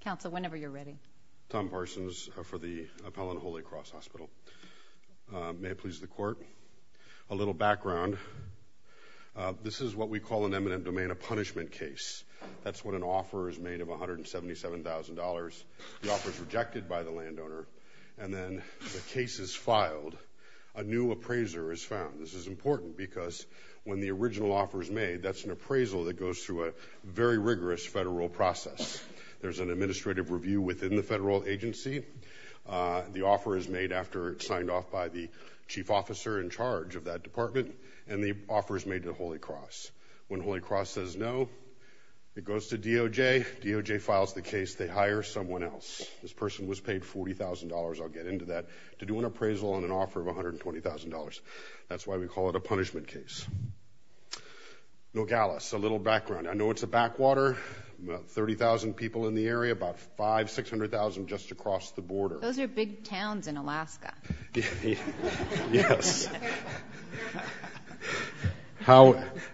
Council, whenever you're ready. Tom Parsons for the Appellant Holy Cross Hospital. May it please the court. A little background. This is what we call in eminent domain a punishment case. That's when an offer is made of $177,000. The offer is rejected by the landowner, and then the case is filed. A new appraiser is found. This is important because when the original offer is made, that's an appraisal that goes through a very There's an administrative review within the federal agency. The offer is made after it's signed off by the chief officer in charge of that department, and the offer is made to the Holy Cross. When Holy Cross says no, it goes to DOJ. DOJ files the case. They hire someone else. This person was paid $40,000. I'll get into that, to do an appraisal on an offer of $120,000. That's why we call it a punishment case. Nogales, a little background. I know it's a backwater. 30,000 people in the area, about 500,000, 600,000 just across the border. Those are big towns in Alaska. Yes.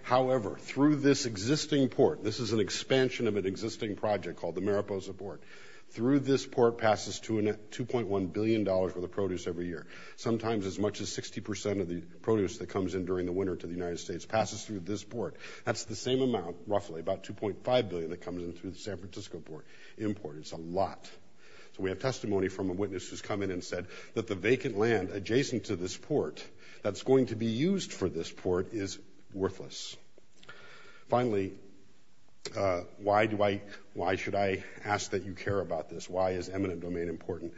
However, through this existing port, this is an expansion of an existing project called the Mariposa Port. Through this port passes $2.1 billion for the produce every year. Sometimes as much as 60% of the produce that comes in during the winter to the United States passes through this port. That's the same amount, roughly, about $2.5 billion that comes in through the San Francisco port. Import. It's a lot. So we have testimony from a witness who's come in and said that the vacant land adjacent to this port that's going to be used for this port is worthless. Finally, why should I ask that you care about this? Why is eminent domain important?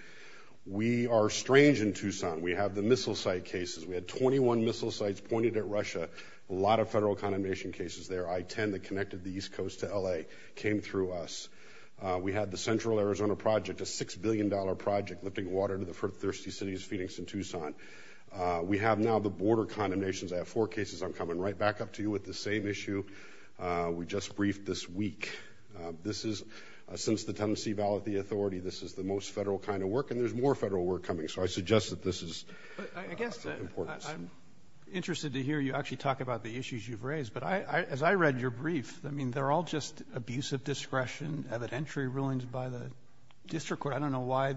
We are strange in Tucson. We have the missile site cases. We had 21 missile sites pointed at Russia. A lot of federal condemnation cases there. I-10 that connected the East Coast to LA came through us. We had the Central Arizona project, a $6 billion project lifting water to the thirsty cities of Phoenix and Tucson. We have now the border condemnations. I have four cases. I'm coming right back up to you with the same issue. We just briefed this week. Since the Tennessee ballot, the authority, this is the most federal kind of work. And there's more federal work coming. So I suggest that this is of importance. I guess I'm interested to hear you actually talk about the issues you've raised. But as I read your brief, I mean, they're all just abuse of discretion, evidentiary rulings by the district court. I don't know why.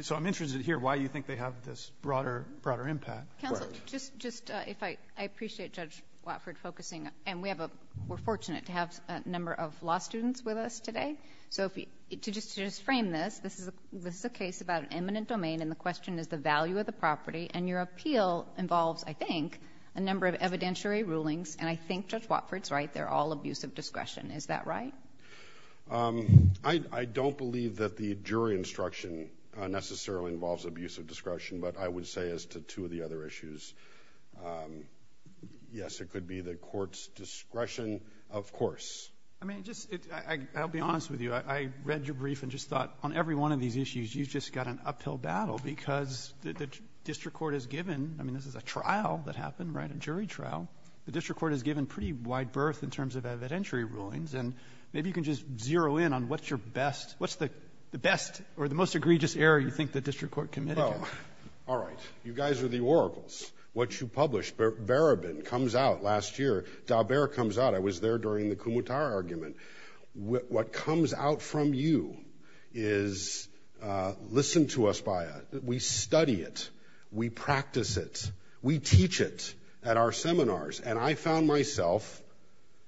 So I'm interested to hear why you think they have this broader impact. Counsel, just if I appreciate Judge Watford focusing. And we're fortunate to have a number of law students with us today. So just to just frame this, this is a case about an eminent domain. And the question is the value of the property. And your appeal involves, I think, a number of evidentiary rulings. And I think Judge Watford's right. They're all abuse of discretion. Is that right? I don't believe that the jury instruction necessarily involves abuse of discretion. But I would say as to two of the other issues, yes, it could be the court's discretion, of course. I mean, I'll be honest with you. I read your brief and just thought on every one of these issues, you've just got an uphill battle. Because the district court has given, I mean, this is a trial that happened, right, a jury trial. The district court has given pretty wide berth in terms of evidentiary rulings. And maybe you can just zero in on what's your best, what's the best or the most egregious error you think the district court committed? All right. You guys are the oracles. What you published, Barabin, comes out last year. Daubert comes out. I was there during the Kumutar argument. What comes out from you is listened to us by us. We study it. We practice it. We teach it at our seminars. And I found myself,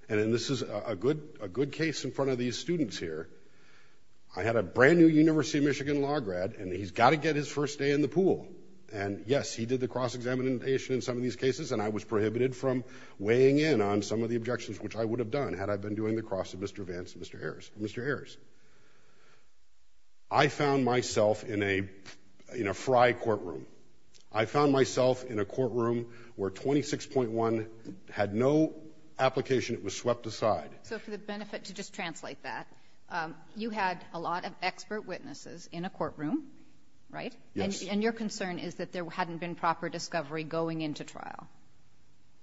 and this is a good case in front of these students here, I had a brand new University of Michigan law grad. And he's got to get his first day in the pool. And yes, he did the cross-examination in some of these cases. And I was prohibited from weighing in on some of the objections, which I would have done had I been doing the cross of Mr. Vance and Mr. Harris. I found myself in a fry courtroom. I found myself in a courtroom where 26.1 had no application. It was swept aside. So for the benefit to just translate that, you had a lot of expert witnesses in a courtroom, right? And your concern is that there hadn't been proper discovery going into trial.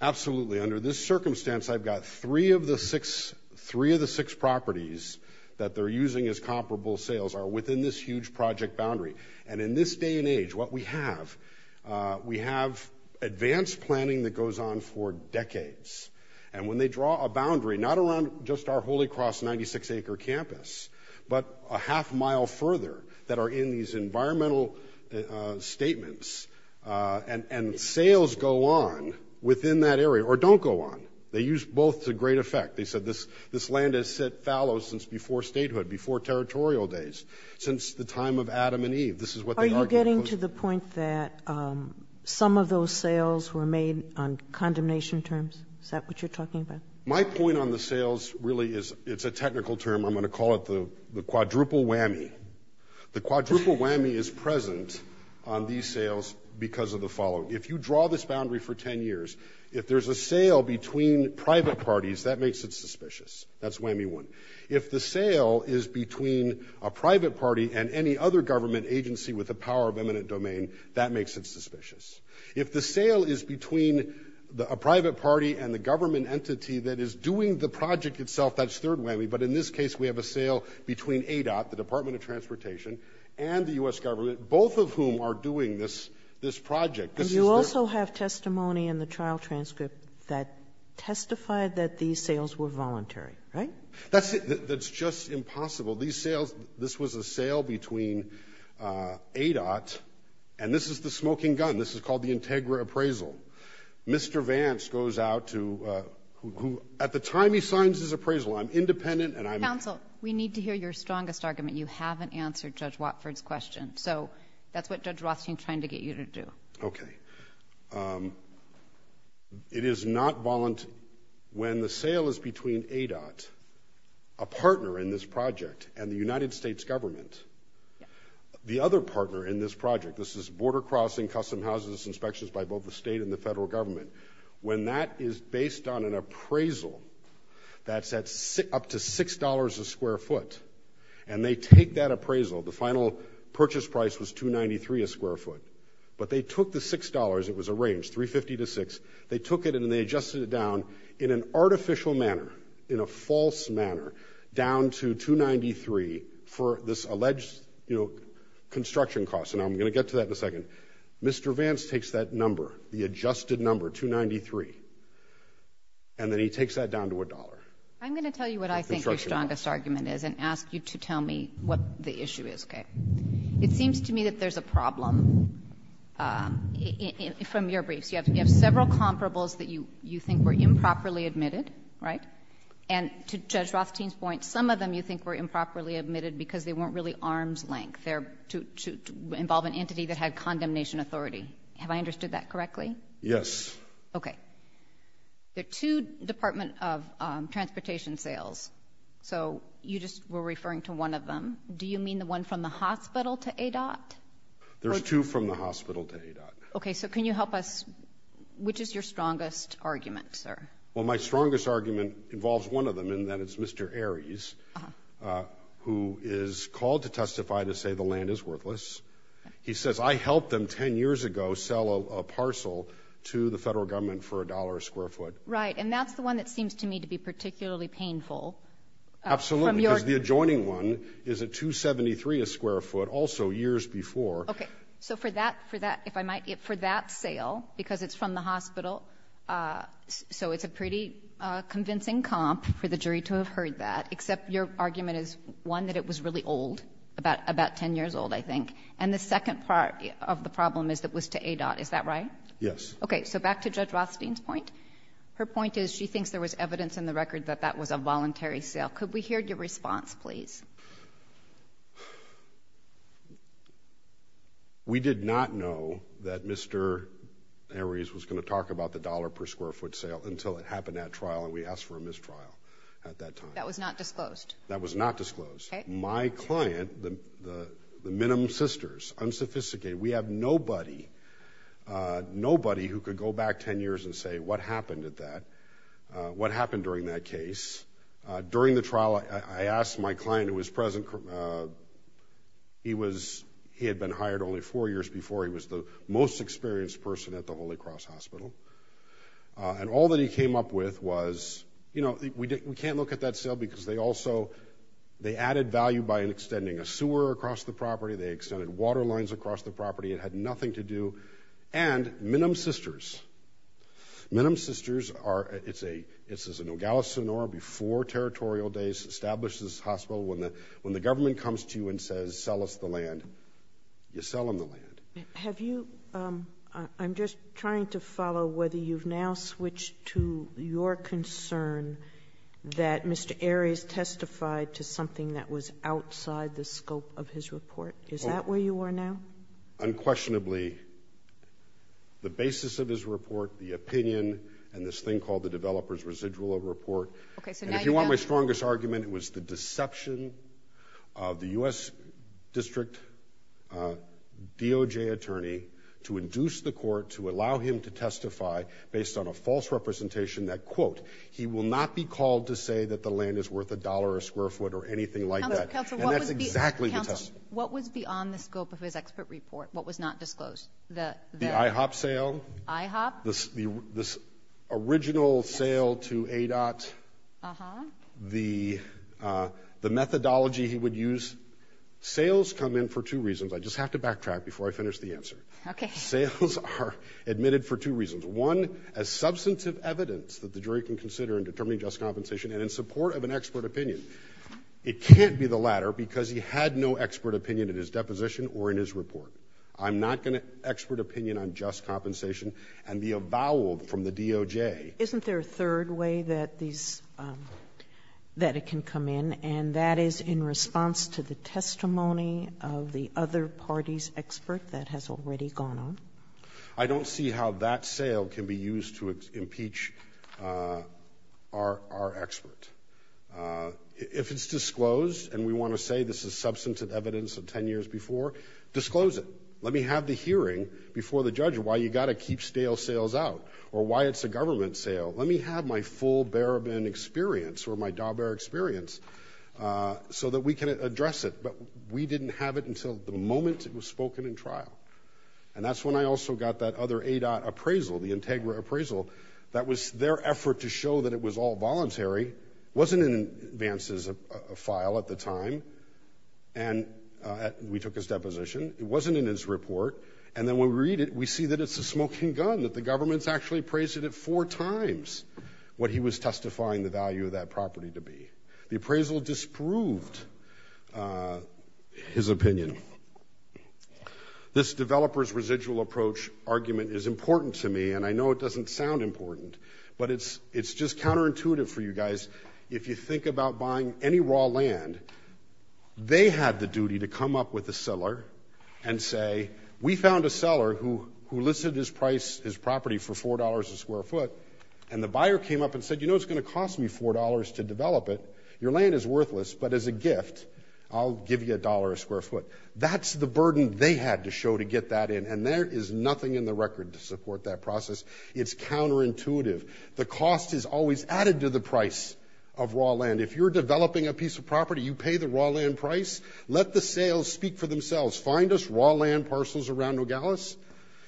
Absolutely. Under this circumstance, I've got three of the six properties that they're using as comparable sales are within this huge project boundary. And in this day and age, what we have, we have advanced planning that goes on for decades. And when they draw a boundary not around just our Holy Cross 96-acre campus, but a half mile further that are in these environmental statements, and sales go on within that area. Or don't go on. They use both to great effect. They said this land has set fallow since before statehood, before territorial days, since the time of Adam and Eve. This is what they argued. Are you getting to the point that some of those sales were made on condemnation terms? Is that what you're talking about? My point on the sales really is it's a technical term. I'm going to call it the quadruple whammy. The quadruple whammy is present on these sales because of the following. If you draw this boundary for 10 years, if there's a sale between private parties, that makes it suspicious. That's whammy one. If the sale is between a private party and any other government agency with the power of eminent domain, that makes it suspicious. If the sale is between a private party and the government entity that is doing the project itself, that's third whammy. But in this case, we have a sale between ADOT, the Department of Transportation, and the US government, both of whom are doing this project. And you also have testimony in the trial transcript that testified that these sales were voluntary, right? That's it. That's just impossible. These sales, this was a sale between ADOT. And this is the smoking gun. This is called the integra appraisal. Mr. Vance goes out to, at the time he signs his appraisal, I'm independent and I'm- Counsel, we need to hear your strongest argument. You haven't answered Judge Watford's question. So that's what Judge Rothstein's trying to get you to do. OK. It is not voluntary. When the sale is between ADOT, a partner in this project, and the United States government, the other partner in this project, this is border crossing custom houses inspections by both the state and the federal government, when that is based on an appraisal that's up to $6 a square foot, and they take that appraisal, the final purchase price was $2.93 a square foot, but they took the $6, it was a range, $3.50 to $6, they took it and they adjusted it down in an artificial manner, in a false manner, down to $2.93 for this alleged, you know, construction cost. And I'm going to get to that in a second. Mr. Vance takes that number, the adjusted number, $2.93, and then he takes that down to a dollar. I'm going to tell you what I think your strongest argument is and ask you to tell me what the issue is, OK? It seems to me that there's a problem from your briefs. You have several comparables that you think were improperly admitted, right? And to Judge Rothstein's point, some of them you think were improperly admitted because they weren't really arm's length. They're to involve an entity that had condemnation authority. Have I understood that correctly? Yes. OK. There are two Department of Transportation sales, so you just were referring to one of them. Do you mean the one from the hospital to ADOT? There's two from the hospital to ADOT. OK, so can you help us? Which is your strongest argument, sir? Well, my strongest argument involves one of them and that is Mr. Aries, who is called to testify to say the land is worthless. He says, I helped them 10 years ago sell a parcel to the federal government for a dollar a square foot. Right, and that's the one that seems to me to be particularly painful. Absolutely, because the adjoining one is a 273 a square foot, also years before. OK, so for that, for that, if I might, for that sale, because it's from the hospital, so it's a pretty convincing comp for the jury to have heard that, except your argument is, one, that it was really old, about 10 years old, I think. And the second part of the problem is it was to ADOT. Is that right? Yes. OK, so back to Judge Rothstein's point. Her point is she thinks there was evidence in the record that that was a voluntary sale. Could we hear your response, please? We did not know that Mr. Aries was gonna talk about the dollar per square foot sale until it happened at trial, and we asked for a mistrial at that time. That was not disclosed. That was not disclosed. My client, the Minim Sisters, unsophisticated, we have nobody, nobody who could go back 10 years and say, what happened at that? What happened during that case? During the trial, I asked my client, who was present, he had been hired only four years before. He was the most experienced person at the Holy Cross Hospital. And all that he came up with was, you know, we can't look at that sale because they also, they added value by extending a sewer across the property. They extended water lines across the property. It had nothing to do. And Minim Sisters, Minim Sisters are, it's an Ogallis Sonora, before territorial days, established this hospital. When the government comes to you and says, sell us the land, you sell them the land. Have you, I'm just trying to follow whether you've now switched to your concern that Mr. Aries testified to something that was outside the scope of his report. Is that where you are now? Unquestionably, the basis of his report, the opinion, and this thing called the developer's residual report. Okay, so now you have. And if you want my strongest argument, it was the deception of the U.S. District DOJ attorney to induce the court to allow him to testify based on a false representation that, quote, he will not be called to say that the land is worth a dollar a square foot or anything like that. And that's exactly the testimony. What was beyond the scope of his expert report? What was not disclosed? The IHOP sale. IHOP? This original sale to ADOT. Uh-huh. The methodology he would use. Sales come in for two reasons. I just have to backtrack before I finish the answer. Okay. Sales are admitted for two reasons. One, as substantive evidence that the jury can consider in determining just compensation and in support of an expert opinion. It can't be the latter because he had no expert opinion in his deposition or in his report. I'm not gonna expert opinion on just compensation and be avowed from the DOJ. Isn't there a third way that these, that it can come in and that is in response to the testimony of the other party's expert that has already gone on? I don't see how that sale can be used to impeach our expert. If it's disclosed and we wanna say this is substantive evidence of 10 years before, disclose it. Let me have the hearing before the judge why you gotta keep stale sales out or why it's a government sale. Let me have my full Barabin experience or my Dauber experience so that we can address it. But we didn't have it until the moment it was spoken in trial. And that's when I also got that other ADOT appraisal, the Integra appraisal, that was their effort to show that it was all voluntary. Wasn't in advance as a file at the time. And we took his deposition. It wasn't in his report. And then when we read it, we see that it's a smoking gun, that the government's actually appraised it four times what he was testifying the value of that property to be. The appraisal disproved his opinion. This developer's residual approach argument is important to me and I know it doesn't sound important, but it's just counterintuitive for you guys. If you think about buying any raw land, they had the duty to come up with a seller and say, we found a seller who listed his price, his property for $4 a square foot. And the buyer came up and said, you know, it's gonna cost me $4 to develop it. Your land is worthless, but as a gift, I'll give you a dollar a square foot. That's the burden they had to show to get that in. And there is nothing in the record to support that process. It's counterintuitive. The cost is always added to the price of raw land. If you're developing a piece of property, you pay the raw land price, let the sales speak for themselves. Find us raw land parcels around Nogales,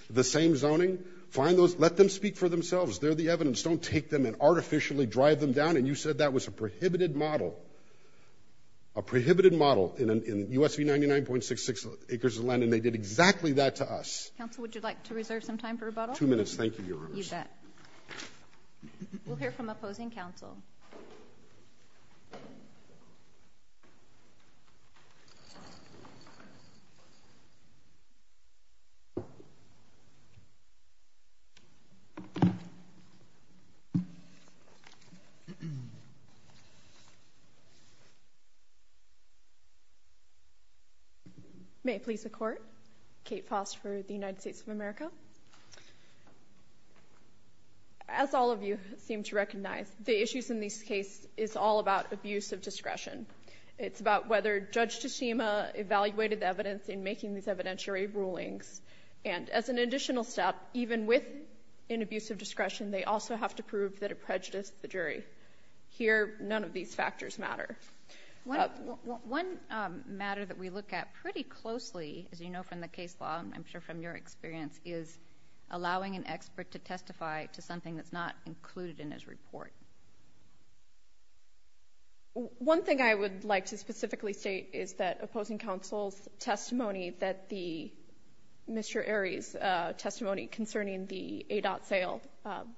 the same zoning, find those, let them speak for themselves. They're the evidence. Don't take them and artificially drive them down. And you said that was a prohibited model, a prohibited model in USV 99.66 acres of land. And they did exactly that to us. Council, would you like to reserve some time for rebuttal? Two minutes. Thank you, Your Honors. You bet. We'll hear from opposing council. May I please the court? Kate Foss for the United States of America. As all of you seem to recognize, the issues in this case is all about abuse of discretion. It's about whether Judge Teshima evaluated the evidence in making these evidentiary rulings. And as an additional step, even with an abuse of discretion, they also have to prove that it prejudiced the jury. Here, none of these factors matter. One matter that we look at pretty closely, as you know from the case law, I'm sure from your experience, is allowing an expert to testify to something that's not included in his report. One thing I would like to specifically state is that opposing counsel's testimony that the Mr. Arie's testimony concerning the ADOT sale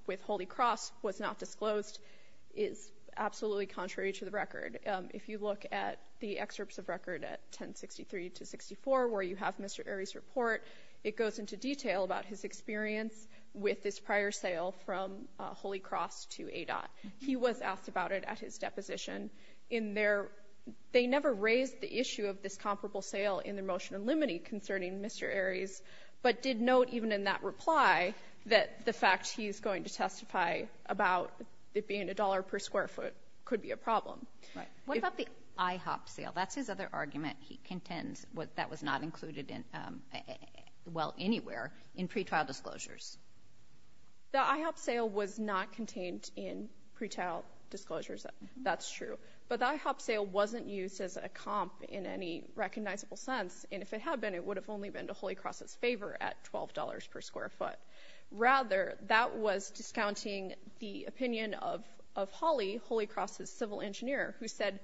with Holy Cross was not disclosed is absolutely contrary to the record. If you look at the excerpts of record at 1063 to 64, where you have Mr. Arie's report, it goes into detail about his experience with this prior sale from Holy Cross to ADOT. He was asked about it at his deposition. They never raised the issue of this comparable sale in the motion in limine concerning Mr. Arie's, but did note even in that reply that the fact he's going to testify about it being a dollar per square foot could be a problem. What about the IHOP sale? That's his other argument. He contends that was not included, well, anywhere in pretrial disclosures. The IHOP sale was not contained in pretrial disclosures. That's true. But the IHOP sale wasn't used as a comp in any recognizable sense, and if it had been, it would have only been to Holy Cross's favor at $12 per square foot. Rather, that was discounting the opinion of Hawley, Holy Cross's civil engineer, who said,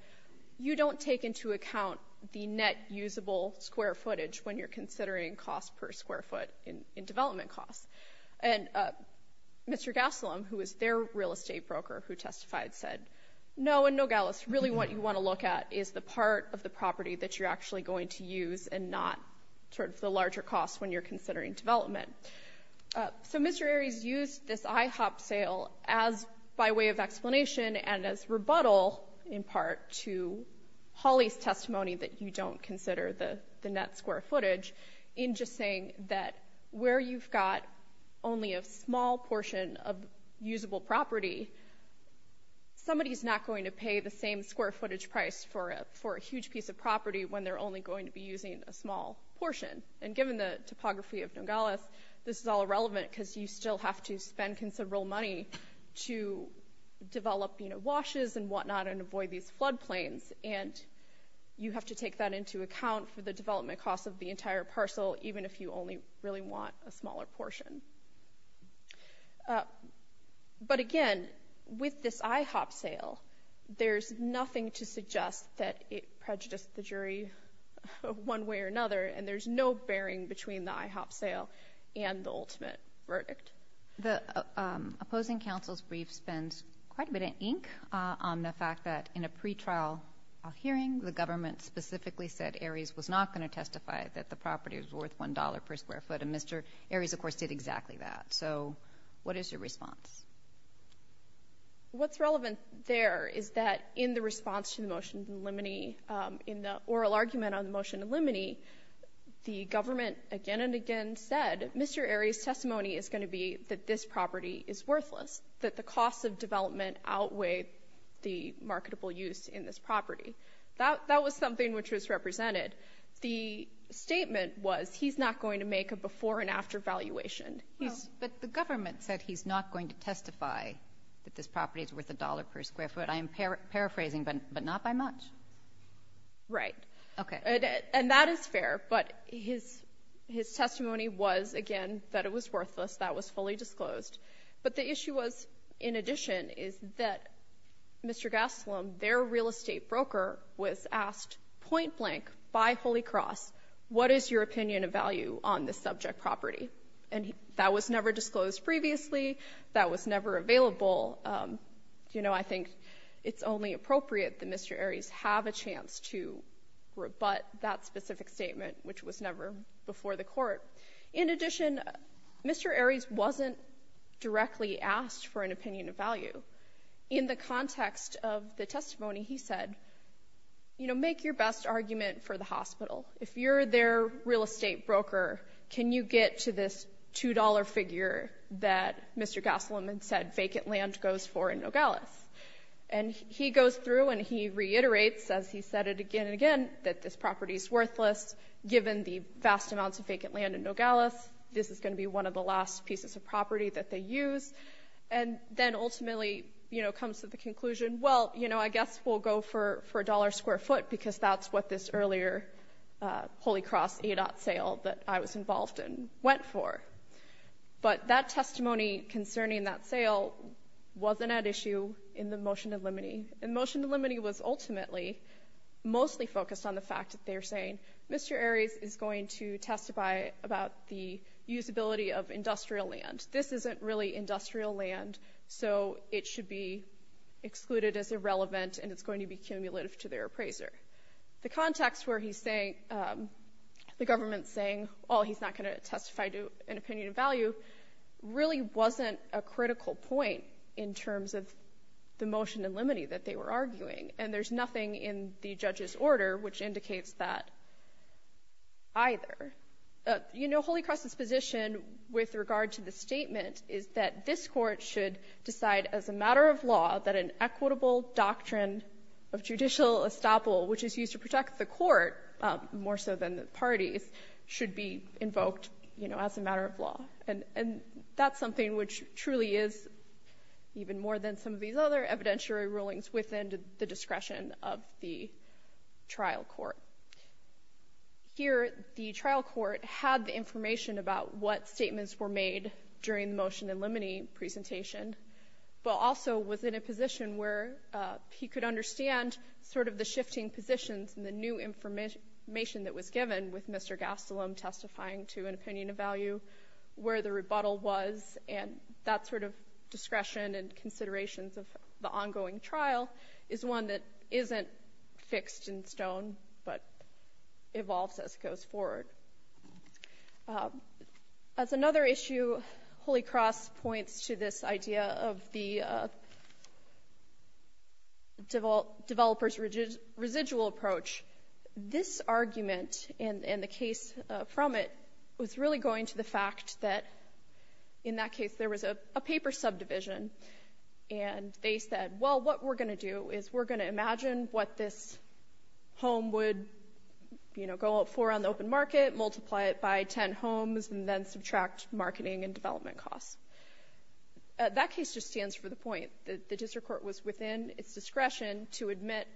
you don't take into account the net usable square footage when you're considering cost per square foot in development costs. And Mr. Gasolam, who was their real estate broker, who testified, said, no, and no, Gallus, really what you wanna look at is the part of the property that you're actually going to use and not sort of the larger costs when you're considering development. So Mr. Arie's used this IHOP sale as by way of explanation and as rebuttal, in part, to Hawley's testimony that you don't consider the net square footage in just saying that where you've got only a small portion of usable property, somebody's not going to pay the same square footage price for a huge piece of property when they're only going to be using a small portion. And given the topography of Nongalas, this is all irrelevant because you still have to spend considerable money to develop washes and whatnot and avoid these floodplains. And you have to take that into account for the development costs of the entire parcel, even if you only really want a smaller portion. But again, with this IHOP sale, there's nothing to suggest that it prejudiced the jury one way or another, and there's no bearing between the IHOP sale and the ultimate verdict. The opposing counsel's brief spends quite a bit of ink on the fact that in a pretrial hearing, the government specifically said Aries was not going to testify that the property was worth $1 per square foot, and Mr. Aries, of course, did exactly that. So what is your response? What's relevant there is that in the response to the motion of limine, in the oral argument on the motion of limine, the government again and again said, Mr. Aries' testimony is gonna be that this property is worthless, that the cost of development outweigh the marketable use in this property. That was something which was represented. The statement was he's not going to make a before and after valuation. But the government said he's not going to testify that this property is worth $1 per square foot. I am paraphrasing, but not by much. Right. Okay. And that is fair, but his testimony was, again, that it was worthless. That was fully disclosed. But the issue was, in addition, is that Mr. Gastelum, their real estate broker, was asked point blank by Holy Cross, what is your opinion of value on this subject property? And that was never disclosed previously. That was never available. that Mr. Aries have a chance to rebut that specific statement, which was never before the court. In addition, Mr. Aries wasn't directly asked for an opinion of value. In the context of the testimony, he said, make your best argument for the hospital. If you're their real estate broker, can you get to this $2 figure that Mr. Gastelum had said vacant land goes for in Nogales? And he goes through and he reiterates, as he said it again and again, that this property is worthless. Given the vast amounts of vacant land in Nogales, this is gonna be one of the last pieces of property that they use. And then ultimately comes to the conclusion, well, I guess we'll go for a dollar square foot, because that's what this earlier Holy Cross ADOT sale that I was involved in went for. But that testimony concerning that sale wasn't at issue in the motion to limiting. And the motion to limiting was ultimately mostly focused on the fact that they're saying, Mr. Aries is going to testify about the usability of industrial land. This isn't really industrial land, so it should be excluded as irrelevant and it's going to be cumulative to their appraiser. The context where he's saying, the government's saying, oh, he's not gonna testify to an opinion of value, really wasn't a critical point in terms of the motion to limiting that they were arguing. And there's nothing in the judge's order which indicates that either. You know, Holy Cross' position with regard to the statement is that this court should decide as a matter of law that an equitable doctrine of judicial estoppel, which is used to protect the court, should be invoked as a matter of law. And that's something which truly is even more than some of these other evidentiary rulings within the discretion of the trial court. Here, the trial court had the information about what statements were made during the motion to limiting presentation, but also was in a position where he could understand sort of the shifting positions and the new information that was given with Mr. Gastelum testifying to an opinion of value where the rebuttal was, and that sort of discretion and considerations of the ongoing trial is one that isn't fixed in stone, but evolves as it goes forward. As another issue, Holy Cross points to this idea of the developer's residual approach. This argument and the case from it was really going to the fact that in that case, there was a paper subdivision, and they said, well, what we're gonna do is we're gonna imagine what this home would, you know, go up for on the open market, multiply it by 10 homes, and then subtract marketing and development costs. That case just stands for the point that the district court was within its discretion to admit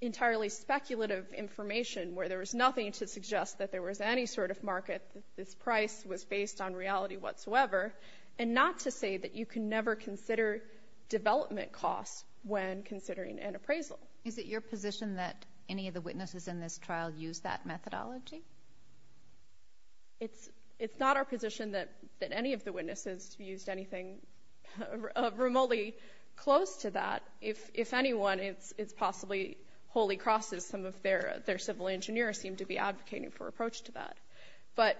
entirely speculative information where there was nothing to suggest that there was any sort of market, this price was based on reality whatsoever, and not to say that you can never consider development costs when considering an appraisal. Is it your position that any of the witnesses in this trial use that methodology? It's not our position that any of the witnesses used anything remotely close to that. If anyone, it's possibly Holy Cross's, some of their civil engineers seem to be advocating for approach to that. But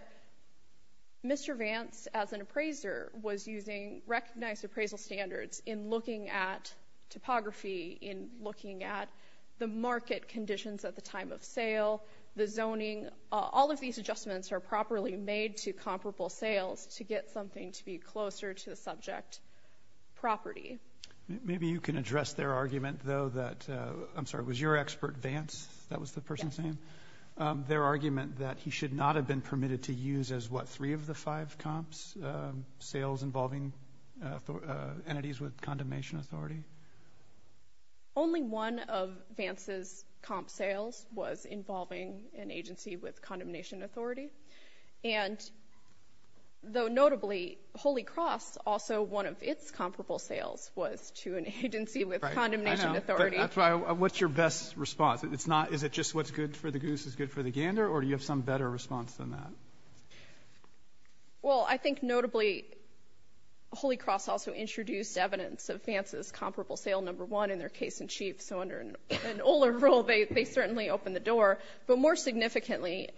Mr. Vance, as an appraiser, was using recognized appraisal standards in looking at topography, in looking at the market conditions at the time of sale, the zoning, all of these adjustments are properly made to comparable sales to get something to be closer to the subject property. Maybe you can address their argument, though, that, I'm sorry, was your expert Vance that was the person saying? Their argument that he should not have been permitted to use as what, three of the five comps, sales involving entities with condemnation authority? Only one of Vance's comp sales was involving an agency with condemnation authority. And though notably, Holy Cross, also one of its comparable sales was to an agency with condemnation authority. What's your best response? Is it just what's good for the goose is good for the gander, or do you have some better response than that? Well, I think notably, Holy Cross also introduced evidence of Vance's comparable sale number one in their case in chief. So under an older rule, they certainly opened the door. But more significantly,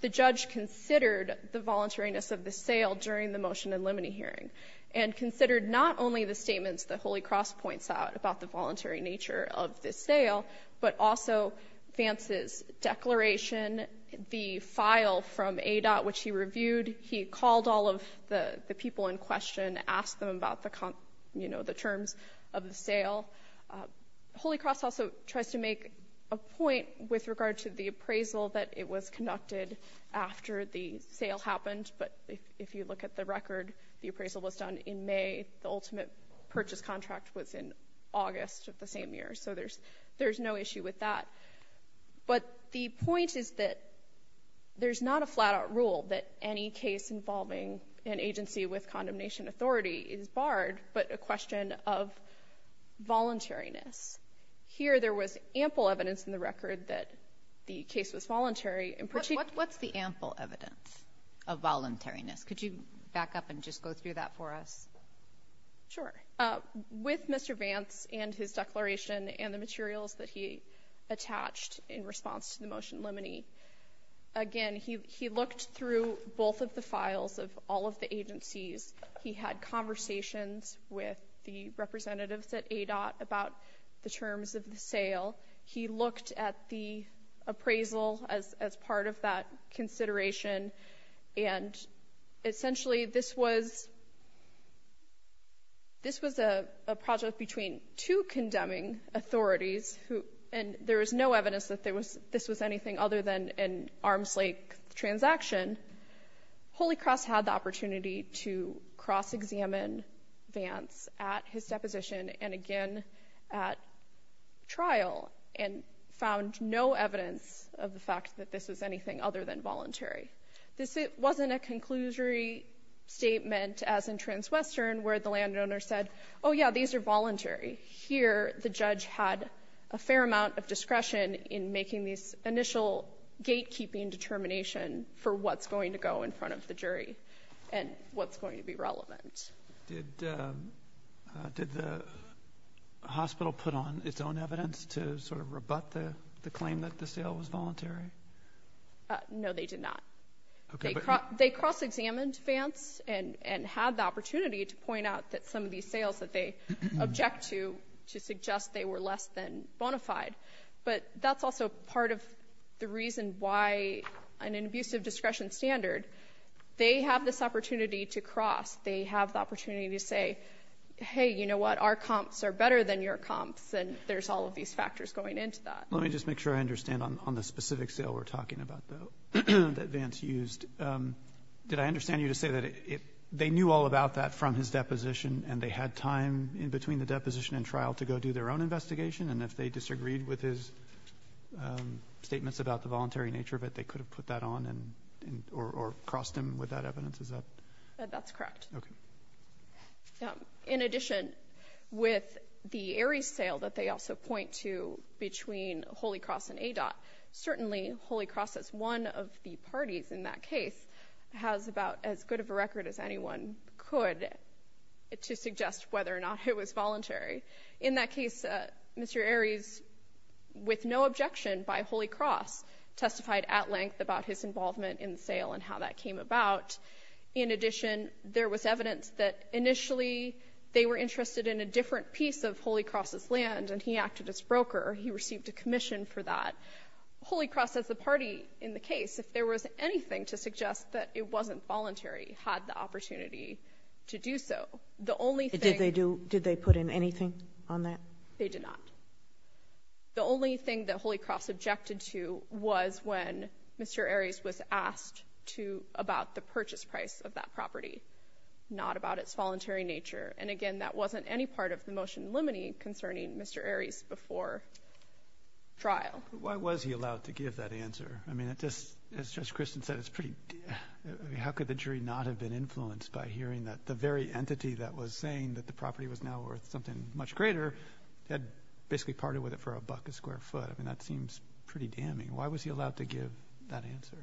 the judge considered the voluntariness of the sale during the motion and limine hearing, and considered not only the statements that Holy Cross points out about the voluntary nature of this sale, but also Vance's declaration, the file from ADOT, which he reviewed. He called all of the people in question, asked them about the terms of the sale. Holy Cross also tries to make a point with regard to the appraisal that it was conducted after the sale happened. But if you look at the record, the appraisal was done in May. The ultimate purchase contract was in August of the same year. So there's no issue with that. But the point is that there's not a flat out rule that any case involving an agency with condemnation authority is barred, but a question of voluntariness. Here, there was ample evidence in the record that the case was voluntary. What's the ample evidence of voluntariness? Could you back up and just go through that for us? Sure. With Mr. Vance and his declaration and the materials that he attached in response to the motion limiting, again, he looked through both of the files of all of the agencies. He had conversations with the representatives at ADOT about the terms of the sale. He looked at the appraisal as part of that consideration. And essentially, this was a project between two condemning authorities, and there was no evidence that this was anything other than an arm's length transaction. Holy Cross had the opportunity to cross examine Vance at his deposition and again at trial and found no evidence of the fact that this was anything other than voluntary. This wasn't a conclusory statement as in Transwestern where the landowner said, oh yeah, these are voluntary. Here, the judge had a fair amount of discretion in making these initial gatekeeping determination for what's going to go in front of the jury and what's going to be relevant. Did the hospital put on its own evidence to sort of rebut the claim that the sale was voluntary? No, they did not. They cross examined Vance and had the opportunity to point out that some of these sales that they object to, to suggest they were less than bona fide. But that's also part of the reason why in an abusive discretion standard, they have this opportunity to cross. They have the opportunity to say, hey, you know what, our comps are better than your comps and there's all of these factors going into that. Let me just make sure I understand on the specific sale we're talking about though that Vance used, did I understand you to say that they knew all about that from his deposition and they had time in between the deposition and trial to go do their own investigation? And if they disagreed with his statements about the voluntary nature of it, they could have put that on or crossed him with that evidence, is that? That's correct. Okay. In addition, with the Aries sale that they also point to between Holy Cross and ADOT, certainly Holy Cross is one of the parties in that case has about as good of a record as anyone could to suggest whether or not it was voluntary. In that case, Mr. Aries, with no objection by Holy Cross, testified at length about his involvement in the sale and how that came about. In addition, there was evidence that initially they were interested in a different piece of Holy Cross's land and he acted as broker. He received a commission for that. Holy Cross as the party in the case, if there was anything to suggest that it wasn't voluntary, had the opportunity to do so. The only thing- Did they put in anything on that? They did not. The only thing that Holy Cross objected to was when Mr. Aries was asked to, about the purchase price of that property, not about its voluntary nature. And again, that wasn't any part of the motion limiting concerning Mr. Aries before trial. Why was he allowed to give that answer? I mean, it just, as Judge Christen said, it's pretty, how could the jury not have been influenced by hearing that the very entity that was saying that the property was now worth something much greater, had basically parted with it for a buck a square foot. I mean, that seems pretty damning. Why was he allowed to give that answer?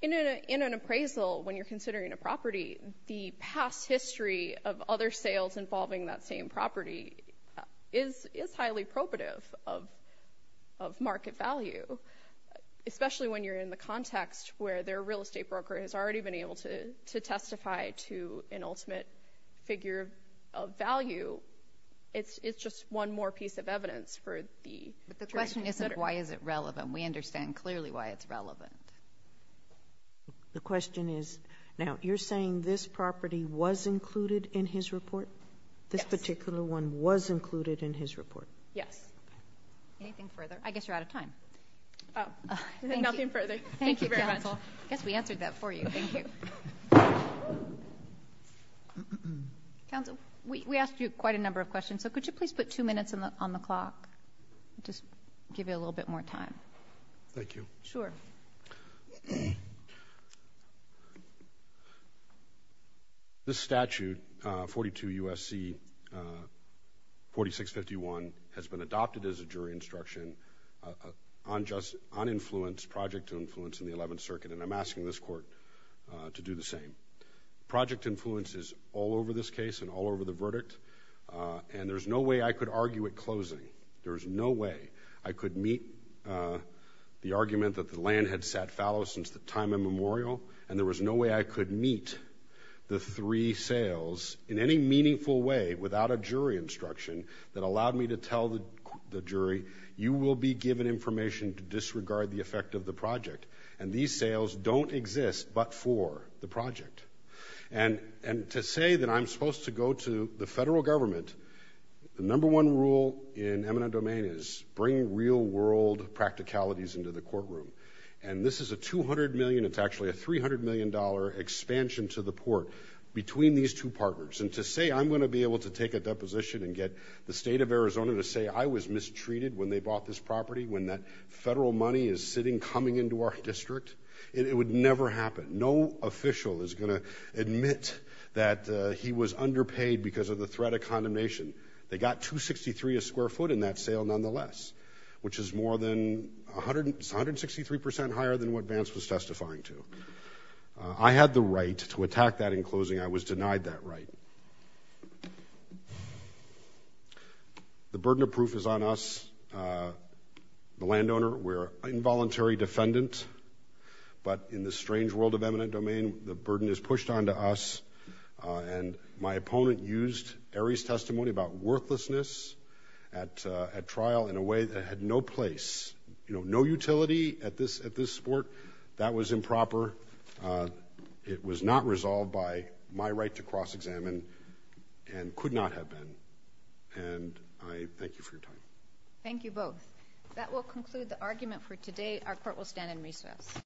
In an appraisal, when you're considering a property, the past history of other sales involving that same property is highly probative of market value, especially when you're in the context where their real estate broker has already been able to testify to an ultimate figure of value. It's just one more piece of evidence for the jury. But the question isn't why is it relevant? We understand clearly why it's relevant. The question is, now you're saying this property was included in his report? This particular one was included in his report? Yes. Anything further? I guess you're out of time. Oh, nothing further. Thank you very much. Yes, we answered that for you, thank you. Counsel, we asked you quite a number of questions, so could you please put two minutes on the clock just to give you a little bit more time? Thank you. Sure. This statute, 42 U.S.C. 4651, has been adopted as a jury instruction on influence, project to influence in the 11th Circuit, and I'm asking this court to do the same. Project influence is all over this case and all over the verdict, and there's no way I could argue at closing. There's no way I could meet the argument that the land had sat fallow since the time immemorial, and there was no way I could meet the three sales in any meaningful way without a jury instruction that allowed me to tell the jury, you will be given information to disregard the effect of the project, and these sales don't exist but for the project. And to say that I'm supposed to go to the federal government, the number one rule in eminent domain is bring real-world practicalities into the courtroom, and this is a $200 million, it's actually a $300 million expansion to the port between these two partners, and to say I'm gonna be able to take a deposition and get the state of Arizona to say I was mistreated when they bought this property, when that federal money is sitting, coming into our district, it would never happen. No official is gonna admit that he was underpaid because of the threat of condemnation. They got 263 a square foot in that sale nonetheless, which is more than 163% higher than what Vance was testifying to. I had the right to attack that in closing. I was denied that right. The burden of proof is on us, the landowner. We're involuntary defendants, but in this strange world of eminent domain, the burden is pushed onto us, and my opponent used Arie's testimony about worthlessness at trial in a way that had no place, no utility at this sport. That was improper. It was not resolved by my right to cross-examine, and could not have been, and I thank you for your time. Thank you both. That will conclude the argument for today. Our court will stand in recess.